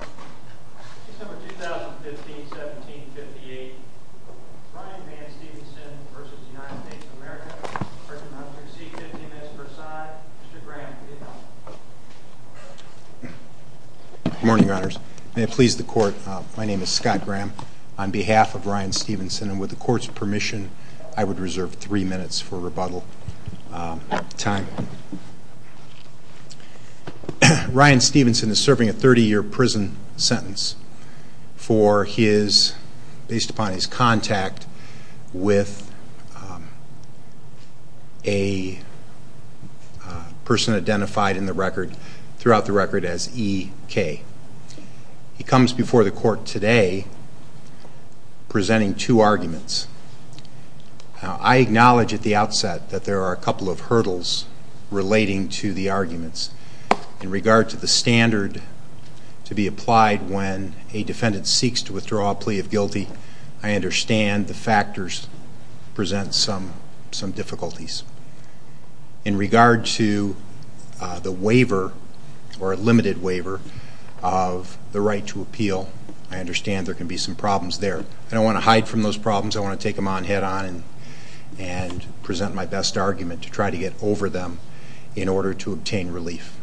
Good morning, Your Honors. May it please the Court, my name is Scott Graham. On behalf of Ryan Stevenson, and with the Court's permission, I would reserve three minutes for rebuttal time. Ryan Stevenson is serving a 30-year prison sentence for his, based upon his contact, with a person identified in the record, throughout the record, as E.K. He comes before the Court today presenting two arguments. I acknowledge at the outset that there are a couple of hurdles relating to the arguments. In regard to the standard to be applied when a defendant seeks to withdraw a plea of guilty, I understand the factors present some difficulties. In fact, I understand there can be some problems there. I don't want to hide from those problems, I want to take them on head-on and present my best argument to try to get over them in order to obtain relief.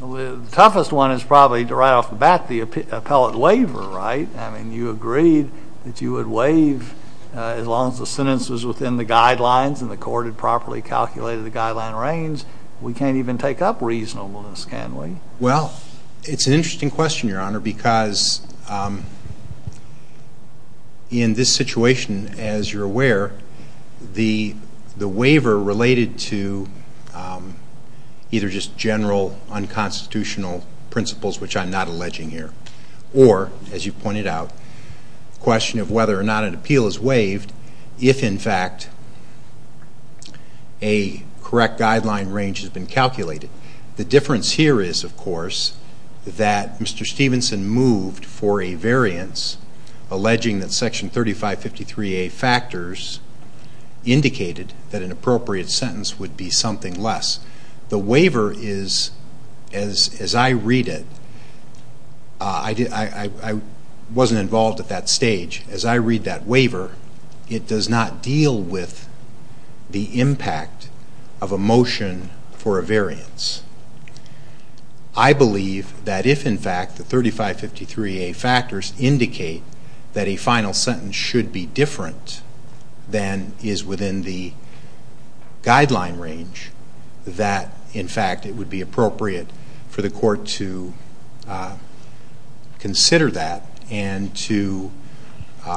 The toughest one is probably, right off the bat, the appellate waiver, right? I mean, you agreed that you would waive as long as the sentence was within the guidelines and the Court had properly calculated the guideline range. We can't even take up reasonableness, can we? Well, it's an interesting question, Your Honor, because in this situation, as you're aware, the waiver related to either just general unconstitutional principles, which I'm not alleging here, or, as you pointed out, the question of whether or not an appeal is waived if, in fact, a correct guideline range has been calculated. The difference here is, of course, that Mr. Stevenson moved for a variance alleging that Section 3553A factors indicated that an appropriate sentence would be something less. The waiver is, as I read it, I wasn't involved at that stage, as I read that waiver, it does not deal with the impact of a motion for a variance. I believe that if, in fact, the 3553A factors indicate that a final sentence should be different than is within the guideline range, that, in fact, it would be appropriate for the Court to consider that and to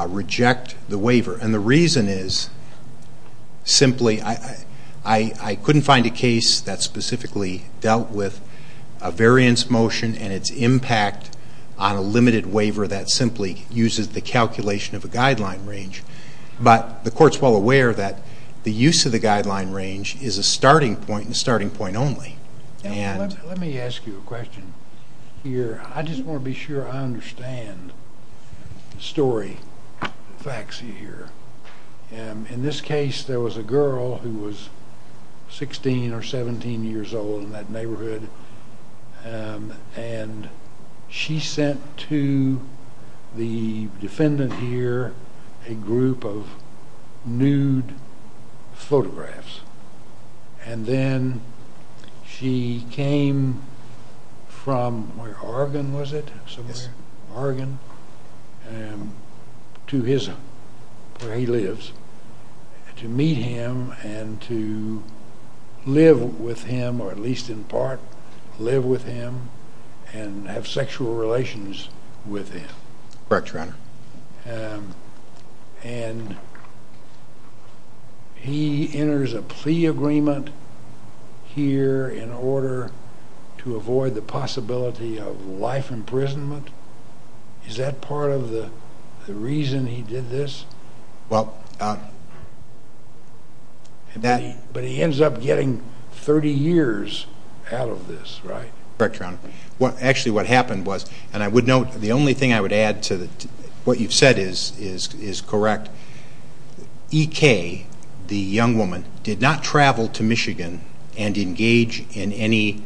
reject the waiver. And the reason is, simply, I couldn't find a case that specifically dealt with a variance motion and its impact on a limited waiver that simply uses the calculation of a guideline range. But the Court's well aware that the use of the guideline range is a starting point only. Let me ask you a question here. I just want to be sure I understand the story, the facts here. In this case, there was a girl who was 16 or 17 years old in that neighborhood, and she sent to the defendant here a group of nude photographs. And then she came from where, Oregon, was it, somewhere? Oregon, to his, where he lives, to meet him and to live with him, or at least, in part, live with him and have sexual relations with him. Correct, Your Honor. And he enters a plea agreement here in order to avoid the possibility of life imprisonment. Is that part of the reason he did this? Well, that But he ends up getting 30 years out of this, right? Correct, Your Honor. Actually, what happened was, and I would note, the only thing I would add to what you've said is correct, EK, the young woman, did not travel to Michigan and engage in any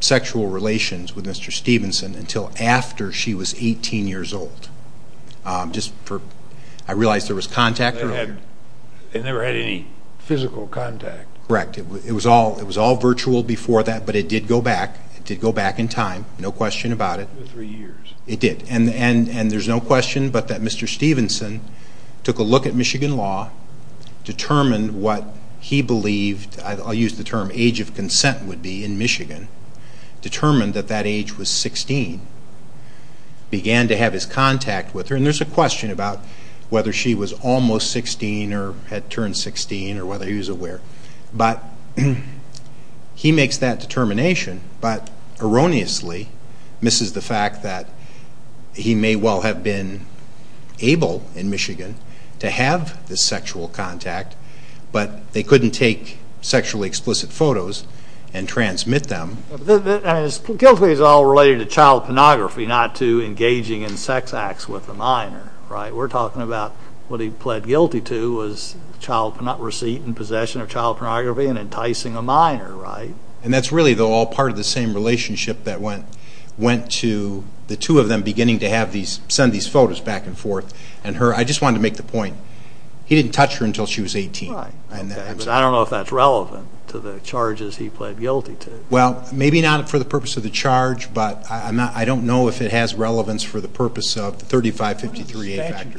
sexual relations with Mr. Stevenson until after she was 18 years old. I realize there was contact. They never had any physical contact. Correct. It was all virtual before that, but it did go back. It did go back in time, no question about it. For three years. It did. And there's no question but that Mr. Stevenson took a look at Michigan law, determined what he believed, I'll use the term age of consent would be in Michigan, determined that that age was 16, began to have his contact with her. And there's a question about whether she was almost 16 or had turned 16 or whether he was aware. But he makes that determination, but erroneously misses the fact that he may well have been able, in Michigan, to have this sexual contact, but they couldn't take sexually explicit photos and transmit them. I mean, guilt is all related to child pornography, not to engaging in sex acts with a minor, right? We're talking about what he pled guilty to was receipt and possession of child pornography and enticing a minor, right? And that's really all part of the same relationship that went to the two of them beginning to have these, send these photos back and forth. And her, I just wanted to make the point, he didn't touch her until she was 18. Right. But I don't know if that's relevant to the charges he pled guilty to. Well, maybe not for the purpose of the charge, but I don't know if it has relevance for the statute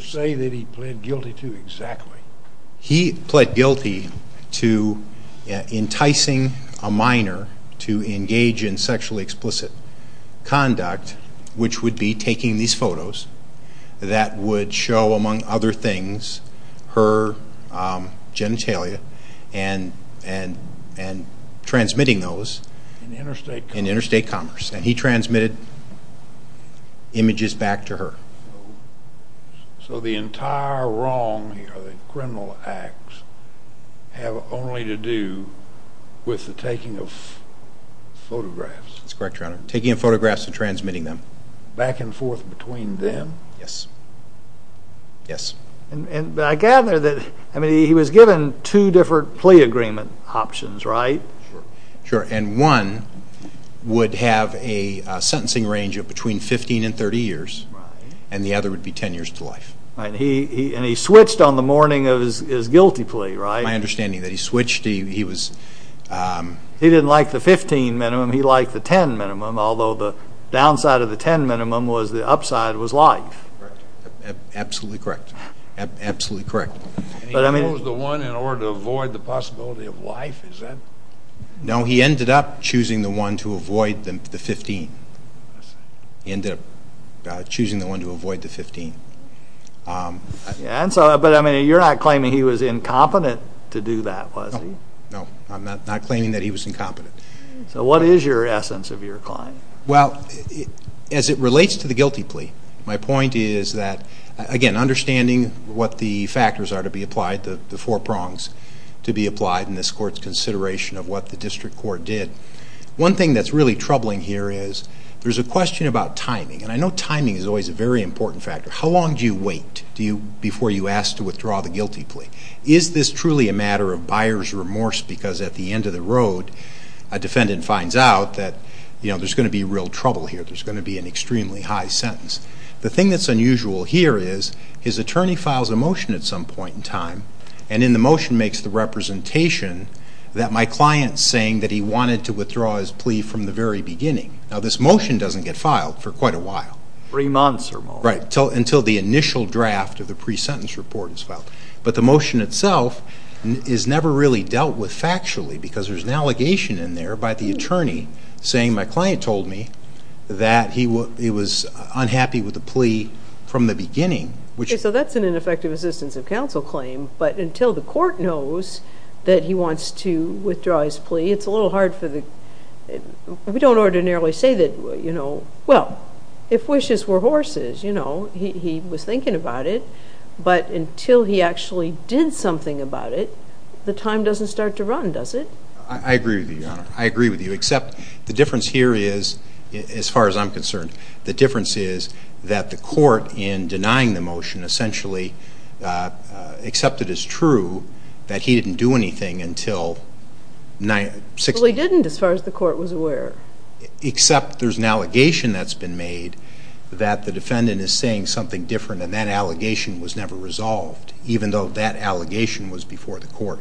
say that he pled guilty to exactly. He pled guilty to enticing a minor to engage in sexually explicit conduct, which would be taking these photos that would show, among other things, her genitalia and transmitting those in interstate commerce. And he transmitted images back to her. So the entire wrong here, the criminal acts, have only to do with the taking of photographs. That's correct, Your Honor. Taking of photographs and transmitting them. Back and forth between them? Yes. Yes. And I gather that, I mean, he was given two different plea agreement options, right? Sure. And one would have a sentencing range of between 15 and 30 years. Right. And the other would be 10 years to life. Right. And he switched on the morning of his guilty plea, right? My understanding is that he switched. He was... He didn't like the 15 minimum. He liked the 10 minimum, although the downside of the 10 minimum was the upside was life. Correct. Absolutely correct. Absolutely correct. But I mean... And he chose the one in order to avoid the possibility of life? Is that... No, he ended up choosing the one to avoid the 15. He ended up choosing the one to avoid the 15. But I mean, you're not claiming he was incompetent to do that, was he? No. No. I'm not claiming that he was incompetent. So what is your essence of your claim? Well, as it relates to the guilty plea, my point is that, again, understanding what the factors are to be applied, the four prongs to be applied in this court's consideration of what the district court did, one thing that's really troubling here is there's a question about timing. And I know timing is always a very important factor. How long do you wait before you ask to withdraw the guilty plea? Is this truly a matter of buyer's remorse because at the end of the road, a defendant finds out that there's going to be real trouble here, there's going to be an extremely high sentence? The thing that's unusual here is his attorney files a motion at some point in time, and in the motion makes the representation that my client's saying that he wanted to withdraw his plea from the very beginning. Now, this motion doesn't get filed for quite a while. Three months or more. Right, until the initial draft of the pre-sentence report is filed. But the motion itself is never really dealt with factually because there's an allegation in there by the attorney saying, my client told me that he was unhappy with the plea from the beginning. Okay, so that's an ineffective assistance of counsel claim. But until the court knows that he wants to withdraw his plea, it's a little hard for the ‑‑ we don't ordinarily say that, you know, well, if wishes were horses, you know, he was thinking about it. But until he actually did something about it, the time doesn't start to run, does it? I agree with you, Your Honor. I agree with you, except the difference here is, as far as I'm concerned, the difference is that the court in denying the motion essentially accepted as true that he didn't do anything until ‑‑ Well, he didn't as far as the court was aware. Except there's an allegation that's been made that the defendant is saying something different and that allegation was never resolved, even though that allegation was before the court.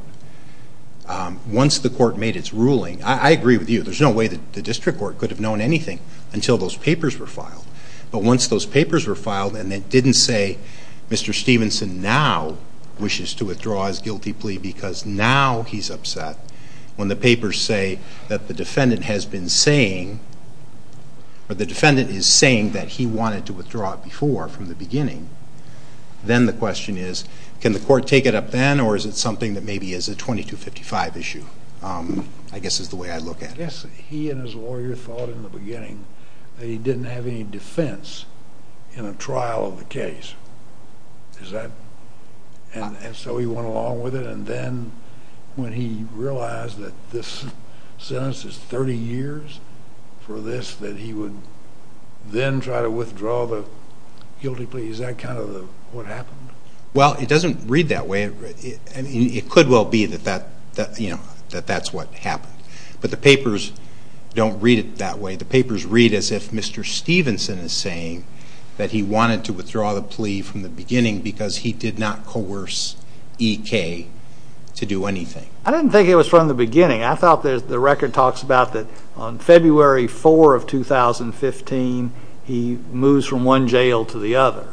Once the court made its ruling, I agree with you, there's no way that the district court could have known anything until those papers were filed. But once those papers were filed and it didn't say, Mr. Stevenson now wishes to withdraw his guilty plea because now he's upset, when the papers say that the defendant has been saying, or the defendant is saying that he wanted to withdraw it before, from the beginning, then the question is, can the court take it up then or is it something that maybe is a 2255 issue? I guess is the way I look at it. Yes, he and his lawyer thought in the beginning that he didn't have any defense in a trial of the case. Is that ‑‑ and so he went along with it and then when he realized that this sentence is 30 years for this, that he would then try to withdraw the guilty plea, is that kind of what happened? Well, it doesn't read that way. It could well be that that's what happened. But the papers don't read it that way. The papers read as if Mr. Stevenson is saying that he wanted to withdraw the plea from the beginning because he did not coerce EK to do anything. I didn't think it was from the beginning. I thought the record talks about that on February 4 of 2015, he moves from one jail to the other.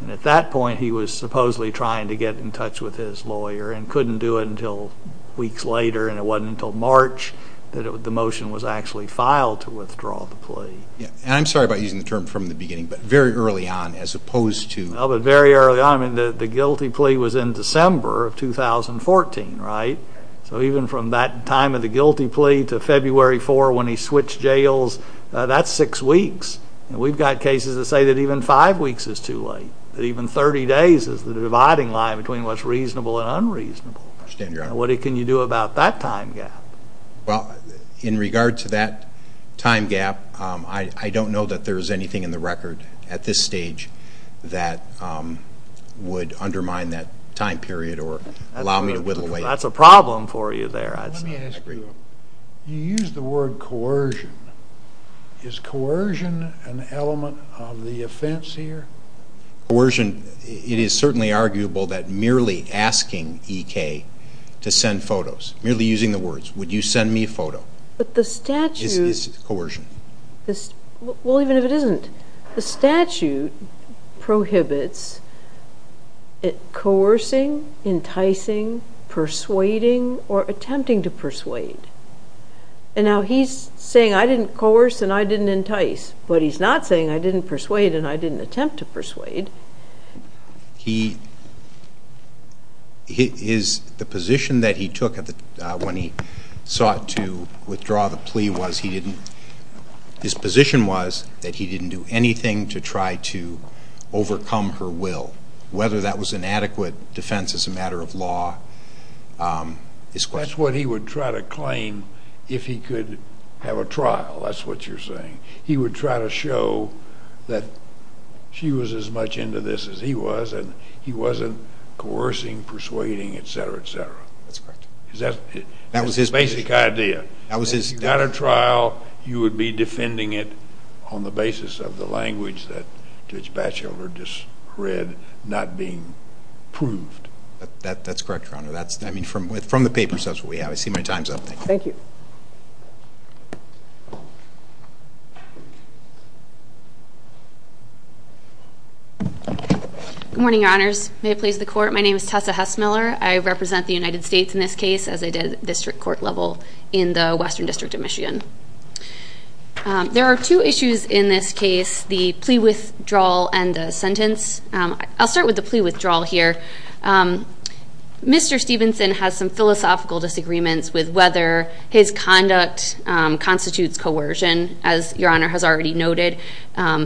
And at that point, he was supposedly trying to get in touch with his lawyer and couldn't do it until weeks later and it wasn't until March that the motion was actually filed to withdraw the plea. And I'm sorry about using the term from the beginning, but very early on as opposed to ‑‑ Well, but very early on, I mean, the guilty plea was in December of 2014, right? So even from that time of the guilty plea to February 4 when he switched jails, that's six weeks. We've got cases that say that even five weeks is too late, that even 30 days is the dividing line between what's reasonable and unreasonable. I understand, Your Honor. What can you do about that time gap? Well, in regard to that time gap, I don't know that there's anything in the record at this stage that would undermine that time period or allow me to whittle away. That's a problem for you there, I'd say. Let me ask you, you used the word coercion. Is coercion an element of the offense here? Coercion, it is certainly arguable that merely asking EK to send photos, merely using the words, would you send me a photo, is coercion. Well, even if it isn't, the statute prohibits coercing, enticing, persuading, or attempting to persuade. And now he's saying I didn't coerce and I didn't entice, but he's not saying I didn't persuade and I didn't attempt to persuade. The position that he took when he sought to withdraw the plea was he didn't, his position was that he didn't do anything to try to overcome her will, whether that was an adequate defense as a matter of law. That's what he would try to claim if he could have a trial, that's what you're saying. He would try to show that she was as much into this as he was and he wasn't coercing, persuading, et cetera, et cetera. That's correct. That was his basic idea. If you got a trial, you would be defending it on the basis of the language that Judge Batchelor just read not being proved. That's correct, Your Honor. From the papers, that's what we have. I see my time's up. Thank you. Good morning, Your Honors. May it please the Court, my name is Tessa Hess-Miller. I represent the United States in this case, as I did district court level in the Western District of Michigan. There are two issues in this case, the plea withdrawal and the sentence. I'll start with the plea withdrawal here. Mr. Stevenson has some philosophical disagreements with whether his conduct constitutes coercion. As Your Honor has already noted,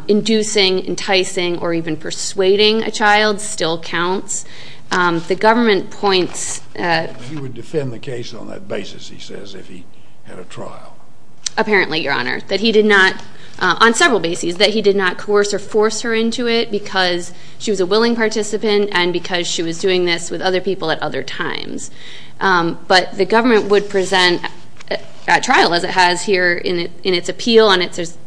inducing, enticing, or even persuading a child still counts. The government points... He would defend the case on that basis, he says, if he had a trial. Apparently, Your Honor, that he did not, on several bases, that he did not coerce or force her into it because she was a willing participant and because she was doing this with other people at other times. But the government would present at trial, as it has here in its appeal and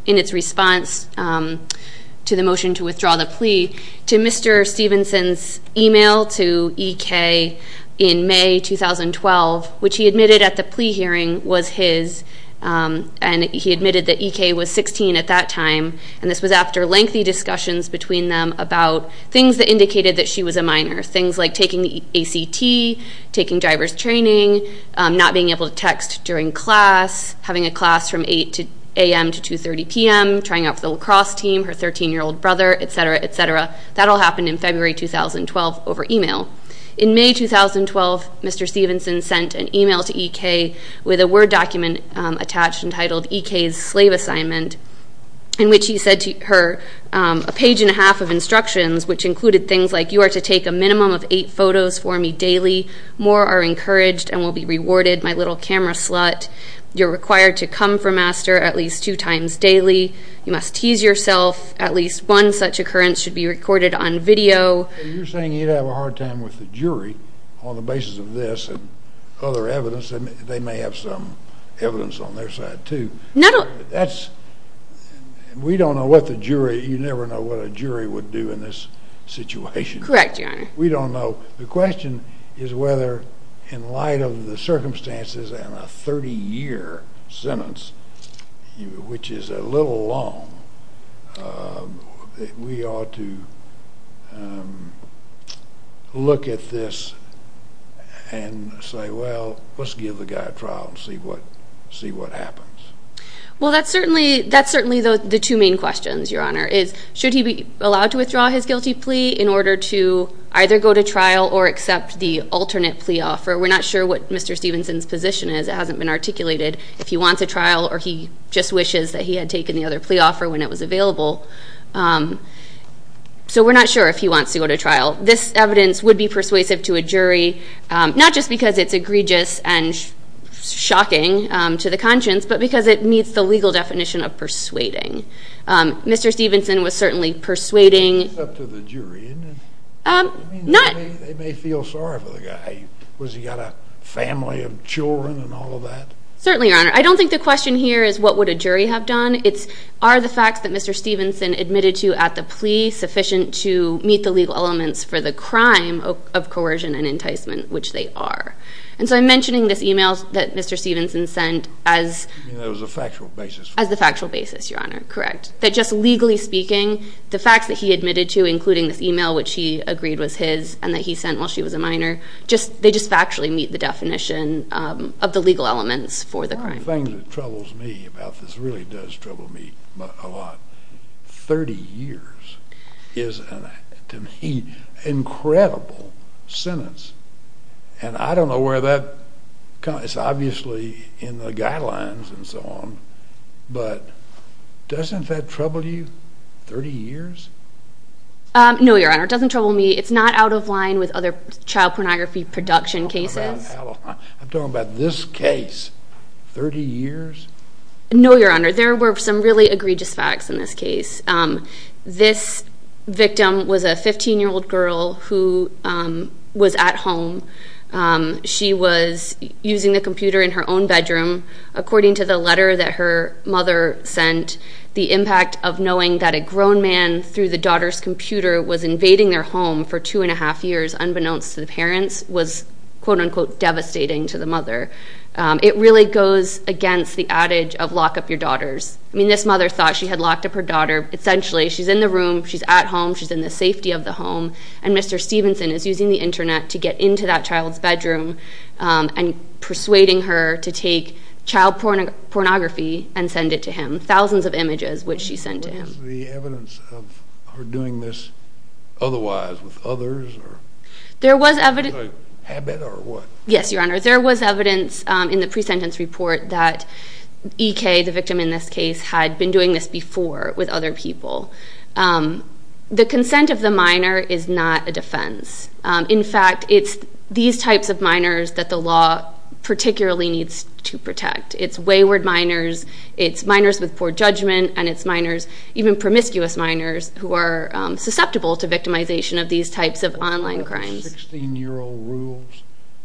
in its response to the motion to withdraw the plea, to Mr. Stevenson's email to EK in May 2012, which he admitted at the plea hearing was his, and he admitted that EK was 16 at that time. And this was after lengthy discussions between them about things that indicated that she was a minor, things like taking the ACT, taking driver's training, not being able to text during class, having a class from 8 a.m. to 2.30 p.m., trying out for the lacrosse team, her 13-year-old brother, etc., etc. That all happened in February 2012 over email. In May 2012, Mr. Stevenson sent an email to EK with a Word document attached entitled, EK's Slave Assignment, in which he said to her, a page and a half of instructions, which included things like, you are to take a minimum of eight photos for me daily. More are encouraged and will be rewarded, my little camera slut. You're required to come for master at least two times daily. You must tease yourself. At least one such occurrence should be recorded on video. You're saying he'd have a hard time with the jury on the basis of this and other evidence. They may have some evidence on their side, too. We don't know what the jury—you never know what a jury would do in this situation. Correct, Your Honor. We don't know. The question is whether, in light of the circumstances and a 30-year sentence, which is a little long, we ought to look at this and say, well, let's give the guy a trial and see what happens. Well, that's certainly the two main questions, Your Honor, is should he be allowed to withdraw his guilty plea in order to either go to trial or accept the alternate plea offer. We're not sure what Mr. Stevenson's position is. It hasn't been articulated. If he wants a trial or he just wishes that he had taken the other plea offer when it was available. So we're not sure if he wants to go to trial. This evidence would be persuasive to a jury, not just because it's egregious and shocking to the conscience, but because it meets the legal definition of persuading. Mr. Stevenson was certainly persuading— It's up to the jury, isn't it? Not— They may feel sorry for the guy. Was he got a family of children and all of that? Certainly, Your Honor. I don't think the question here is what would a jury have done. It's are the facts that Mr. Stevenson admitted to at the plea sufficient to meet the legal elements for the crime of coercion and enticement, which they are. And so I'm mentioning this email that Mr. Stevenson sent as— It was a factual basis. As the factual basis, Your Honor. That just legally speaking, the facts that he admitted to, including this email, which he agreed was his and that he sent while she was a minor, they just factually meet the definition of the legal elements for the crime. One of the things that troubles me about this, really does trouble me a lot, 30 years is, to me, an incredible sentence. And I don't know where that—it's obviously in the guidelines and so on, but doesn't that trouble you, 30 years? No, Your Honor. It doesn't trouble me. It's not out of line with other child pornography production cases. I'm talking about this case. 30 years? No, Your Honor. There were some really egregious facts in this case. This victim was a 15-year-old girl who was at home. She was using the computer in her own bedroom. According to the letter that her mother sent, the impact of knowing that a grown man through the daughter's computer was invading their home for two and a half years, unbeknownst to the parents, was quote-unquote devastating to the mother. It really goes against the adage of lock up your daughters. I mean, this mother thought she had locked up her daughter. Essentially, she's in the room, she's at home, she's in the safety of the home, and Mr. Stevenson is using the internet to get into that child's bedroom and persuading her to take child pornography and send it to him. Thousands of images which she sent to him. Was there evidence of her doing this otherwise with others? There was evidence. Was it a habit or what? Yes, Your Honor. There was evidence in the pre-sentence report that E.K., the victim in this case, had been doing this before with other people. The consent of the minor is not a defense. It's wayward minors, it's minors with poor judgment, and it's minors, even promiscuous minors, who are susceptible to victimization of these types of online crimes. What about the 16-year-old rules?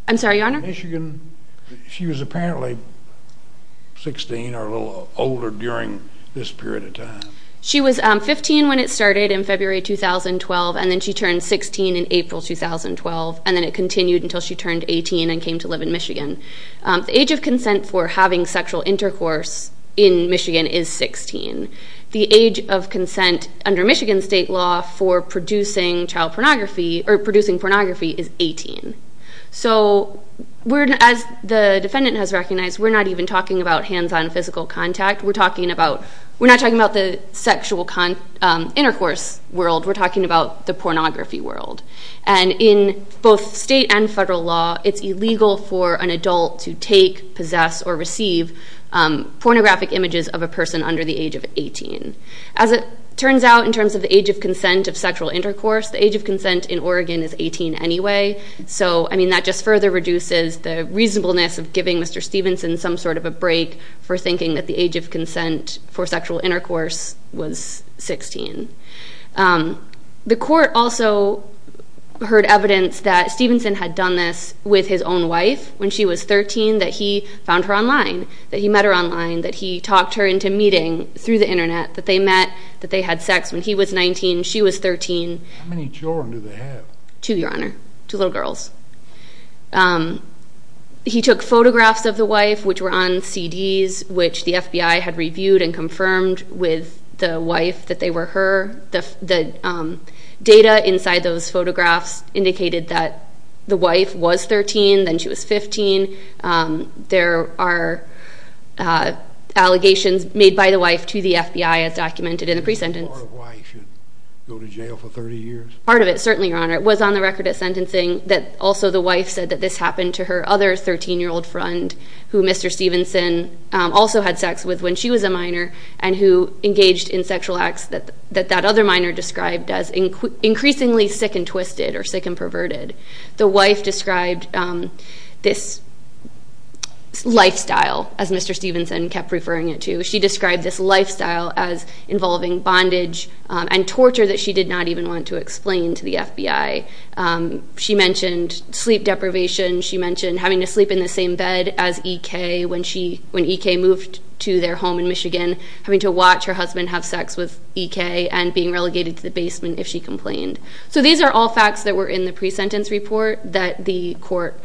I'm sorry, Your Honor? In Michigan, she was apparently 16 or a little older during this period of time. She was 15 when it started in February 2012, and then she turned 16 in April 2012, and then it continued until she turned 18 and came to live in Michigan. The age of consent for having sexual intercourse in Michigan is 16. The age of consent under Michigan state law for producing child pornography, or producing pornography, is 18. So as the defendant has recognized, we're not even talking about hands-on physical contact. We're not talking about the sexual intercourse world. We're talking about the pornography world. And in both state and federal law, it's illegal for an adult to take, possess, or receive pornographic images of a person under the age of 18. As it turns out in terms of the age of consent of sexual intercourse, the age of consent in Oregon is 18 anyway. So, I mean, that just further reduces the reasonableness of giving Mr. Stevenson some sort of a break for thinking that the age of consent for sexual intercourse was 16. The court also heard evidence that Stevenson had done this with his own wife when she was 13, that he found her online, that he met her online, that he talked her into meeting through the Internet, that they met, that they had sex when he was 19, she was 13. How many children do they have? Two, Your Honor, two little girls. He took photographs of the wife, which were on CDs, which the FBI had reviewed and confirmed with the wife that they were her. The data inside those photographs indicated that the wife was 13, then she was 15. There are allegations made by the wife to the FBI as documented in the pre-sentence. Part of why he should go to jail for 30 years? Part of it, certainly, Your Honor. It was on the record at sentencing that also the wife said that this happened to her other 13-year-old friend who Mr. Stevenson also had sex with when she was a minor and who engaged in sexual acts that that other minor described as increasingly sick and twisted or sick and perverted. The wife described this lifestyle, as Mr. Stevenson kept referring it to. She described this lifestyle as involving bondage and torture that she did not even want to explain to the FBI. She mentioned sleep deprivation. She mentioned having to sleep in the same bed as E.K. when E.K. moved to their home in Michigan, having to watch her husband have sex with E.K. and being relegated to the basement if she complained. So these are all facts that were in the pre-sentence report that the court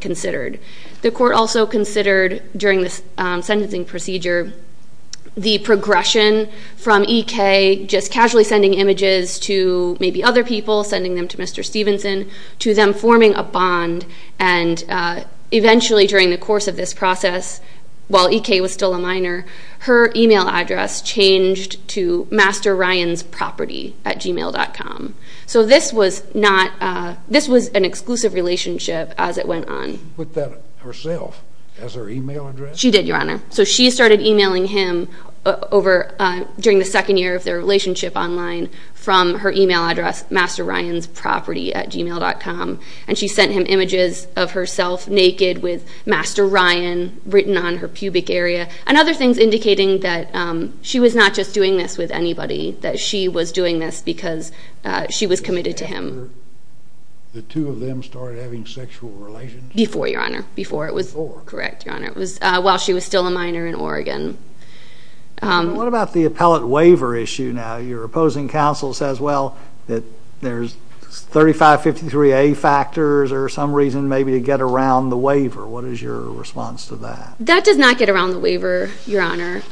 considered. The court also considered during the sentencing procedure the progression from E.K. just casually sending images to maybe other people, sending them to Mr. Stevenson, to them forming a bond. And eventually during the course of this process, while E.K. was still a minor, her e-mail address changed to masterryansproperty at gmail.com. So this was an exclusive relationship as it went on. She put that herself as her e-mail address? She did, Your Honor. So she started e-mailing him during the second year of their relationship online from her e-mail address masterryansproperty at gmail.com, and she sent him images of herself naked with Master Ryan written on her pubic area and other things indicating that she was not just doing this with anybody, that she was doing this because she was committed to him. After the two of them started having sexual relations? Before, Your Honor. Before. Correct, Your Honor, while she was still a minor in Oregon. What about the appellate waiver issue now? Your opposing counsel says, well, that there's 3553A factors or some reason maybe to get around the waiver. What is your response to that? That does not get around the waiver, Your Honor.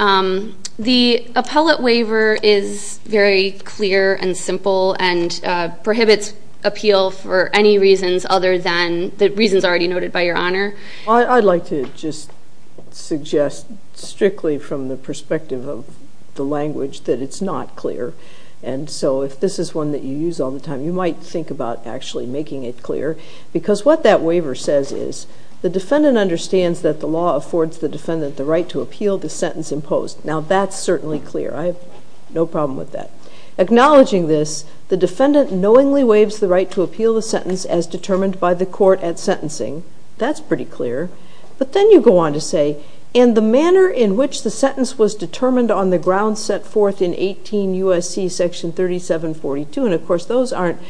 The appellate waiver is very clear and simple and prohibits appeal for any reasons other than the reasons already noted by Your Honor. Well, I'd like to just suggest strictly from the perspective of the language that it's not clear, and so if this is one that you use all the time, you might think about actually making it clear because what that waiver says is the defendant understands that the law affords the defendant the right to appeal the sentence imposed. Now that's certainly clear. I have no problem with that. Acknowledging this, the defendant knowingly waives the right to appeal the sentence as determined by the court at sentencing. That's pretty clear. But then you go on to say, and the manner in which the sentence was determined on the grounds set forth in 18 U.S.C. section 3742, and of course those aren't,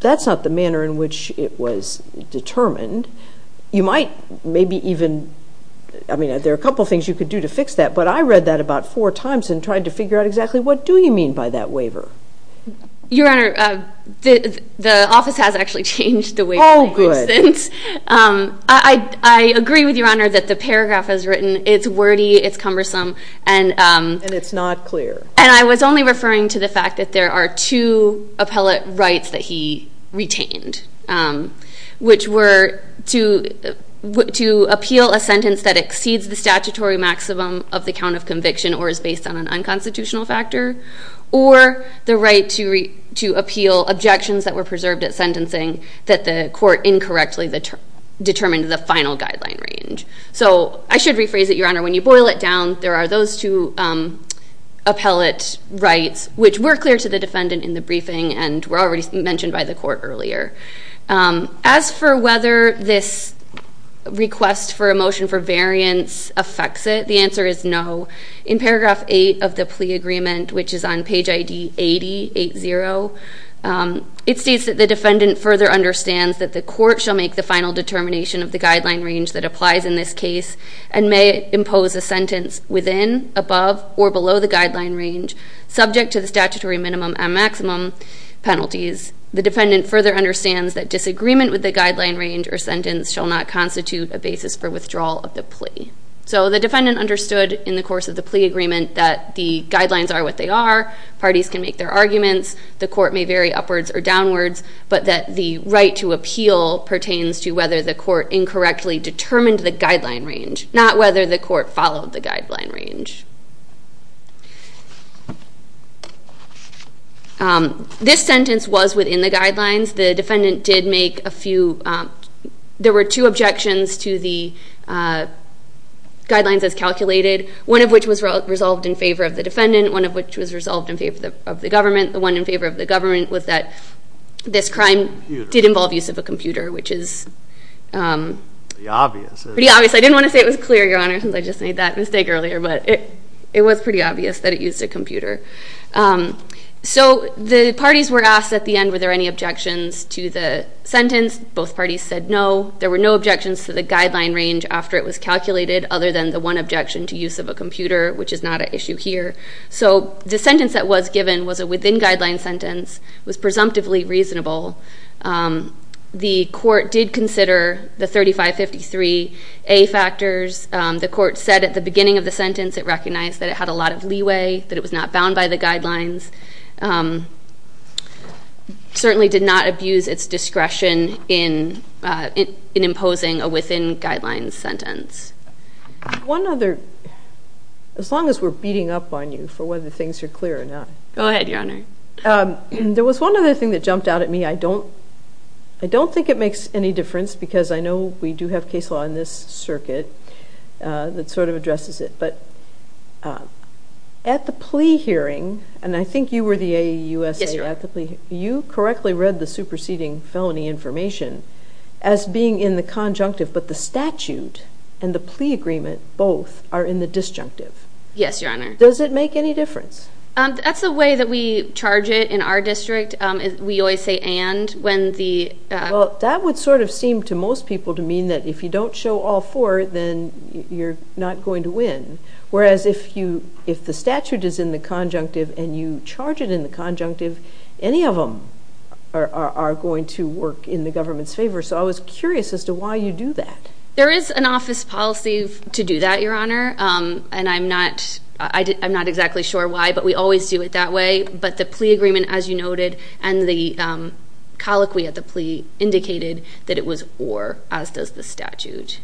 that's not the manner in which it was determined. You might maybe even, I mean, there are a couple things you could do to fix that, but I read that about four times and tried to figure out exactly what do you mean by that waiver. Your Honor, the office has actually changed the waiver. Oh, good. I agree with Your Honor that the paragraph is written, it's wordy, it's cumbersome. And it's not clear. And I was only referring to the fact that there are two appellate rights that he retained, which were to appeal a sentence that exceeds the statutory maximum of the count of conviction or is based on an unconstitutional factor, or the right to appeal objections that were preserved at sentencing that the court incorrectly determined in the final guideline range. So I should rephrase it, Your Honor, when you boil it down, there are those two appellate rights which were clear to the defendant in the briefing and were already mentioned by the court earlier. As for whether this request for a motion for variance affects it, the answer is no. In paragraph 8 of the plea agreement, which is on page ID 8080, it states that the defendant further understands that the court shall make the final determination of the guideline range that applies in this case and may impose a sentence within, above, or below the guideline range, subject to the statutory minimum and maximum penalties. The defendant further understands that disagreement with the guideline range or sentence shall not constitute a basis for withdrawal of the plea. So the defendant understood in the course of the plea agreement that the guidelines are what they are, parties can make their arguments, the court may vary upwards or downwards, but that the right to appeal pertains to whether the court incorrectly determined the guideline range, not whether the court followed the guideline range. This sentence was within the guidelines. The defendant did make a few, there were two objections to the guidelines as calculated, one of which was resolved in favor of the defendant, one of which was resolved in favor of the government. The one in favor of the government was that this crime did involve use of a computer, which is pretty obvious. I didn't want to say it was clear, Your Honor, since I just made that mistake earlier, but it was pretty obvious that it used a computer. So the parties were asked at the end were there any objections to the sentence. Both parties said no. There were no objections to the guideline range after it was calculated other than the one objection to use of a computer, which is not an issue here. So the sentence that was given was a within-guidelines sentence, was presumptively reasonable. The court did consider the 3553A factors. The court said at the beginning of the sentence it recognized that it had a lot of leeway, that it was not bound by the guidelines, certainly did not abuse its discretion in imposing a within-guidelines sentence. One other, as long as we're beating up on you for whether things are clear or not. Go ahead, Your Honor. There was one other thing that jumped out at me. I don't think it makes any difference because I know we do have case law in this circuit that sort of addresses it. But at the plea hearing, and I think you were the AAUSA at the plea hearing, you correctly read the superseding felony information as being in the conjunctive, but the statute and the plea agreement both are in the disjunctive. Yes, Your Honor. Does it make any difference? That's the way that we charge it in our district. We always say and when the... That would sort of seem to most people to mean that if you don't show all four, then you're not going to win. Whereas if the statute is in the conjunctive and you charge it in the conjunctive, any of them are going to work in the government's favor. So I was curious as to why you do that. There is an office policy to do that, Your Honor, and I'm not exactly sure why, but we always do it that way. But the plea agreement, as you noted, and the colloquy at the plea indicated that it was or, as does the statute.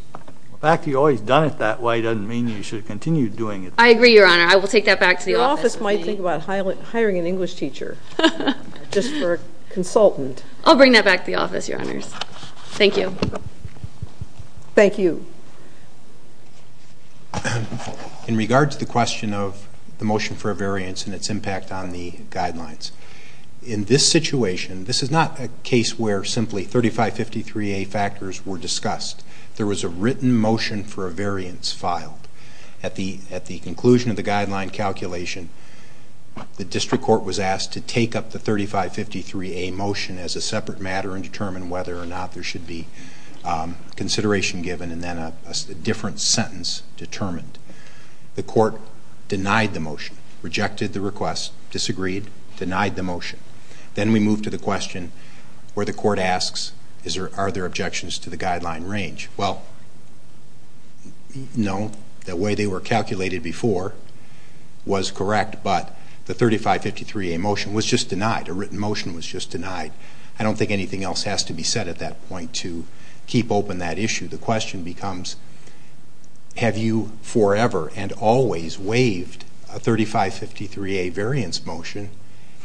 The fact that you've always done it that way doesn't mean you should continue doing it. I agree, Your Honor. I will take that back to the office. Your office might think about hiring an English teacher just for a consultant. I'll bring that back to the office, Your Honors. Thank you. Thank you. In regards to the question of the motion for a variance and its impact on the guidelines, in this situation, this is not a case where simply 3553A factors were discussed. There was a written motion for a variance filed. At the conclusion of the guideline calculation, the district court was asked to take up the 3553A motion as a separate matter and determine whether or not there should be consideration given and then a different sentence determined. The court denied the motion, rejected the request, disagreed, denied the motion. Then we move to the question where the court asks, are there objections to the guideline range? Well, no. The way they were calculated before was correct, but the 3553A motion was just denied. A written motion was just denied. I don't think anything else has to be said at that point to keep open that issue. The question becomes, have you forever and always waived a 3553A variance motion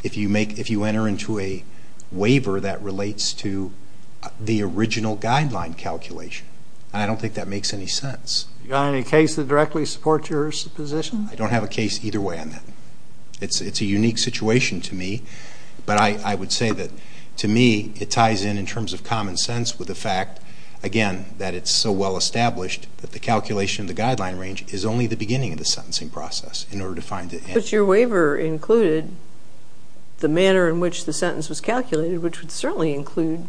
if you enter into a waiver that relates to the original guideline calculation? I don't think that makes any sense. Do you have any case that directly supports your position? I don't have a case either way on that. It's a unique situation to me, but I would say that, to me, it ties in in terms of common sense with the fact, again, that it's so well established that the calculation of the guideline range is only the beginning of the sentencing process. But your waiver included the manner in which the sentence was calculated, which would certainly include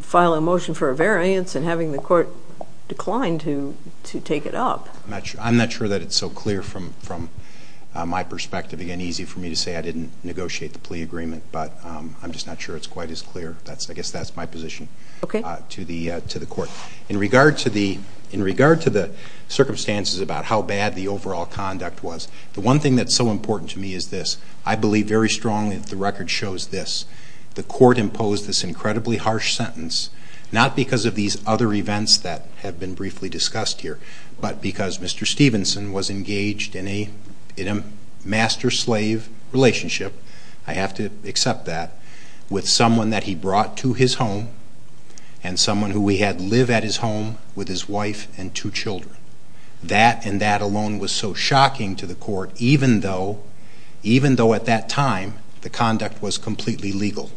filing a motion for a variance and having the court decline to take it up. I'm not sure that it's so clear from my perspective. Again, it's easy for me to say I didn't negotiate the plea agreement, but I'm just not sure it's quite as clear. I guess that's my position to the court. In regard to the circumstances about how bad the overall conduct was, the one thing that's so important to me is this. I believe very strongly that the record shows this. The court imposed this incredibly harsh sentence, not because of these other events that have been briefly discussed here, but because Mr. Stevenson was engaged in a master-slave relationship, I have to accept that, with someone that he brought to his home and someone who he had live at his home with his wife and two children. That and that alone was so shocking to the court, even though at that time the conduct was completely legal.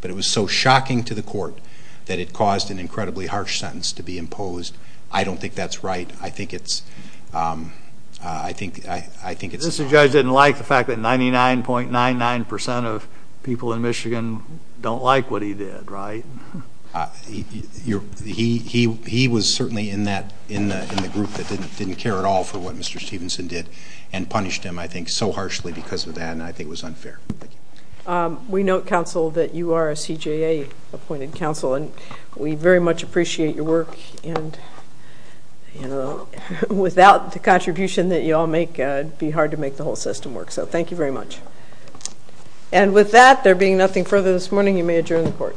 But it was so shocking to the court that it caused an incredibly harsh sentence to be imposed. I don't think that's right. Mr. Judge didn't like the fact that 99.99% of people in Michigan don't like what he did, right? He was certainly in the group that didn't care at all for what Mr. Stevenson did and punished him, I think, so harshly because of that, and I think it was unfair. We note, counsel, that you are a CJA-appointed counsel, and we very much appreciate your work. Without the contribution that you all make, it would be hard to make the whole system work, so thank you very much. And with that, there being nothing further this morning, you may adjourn the court.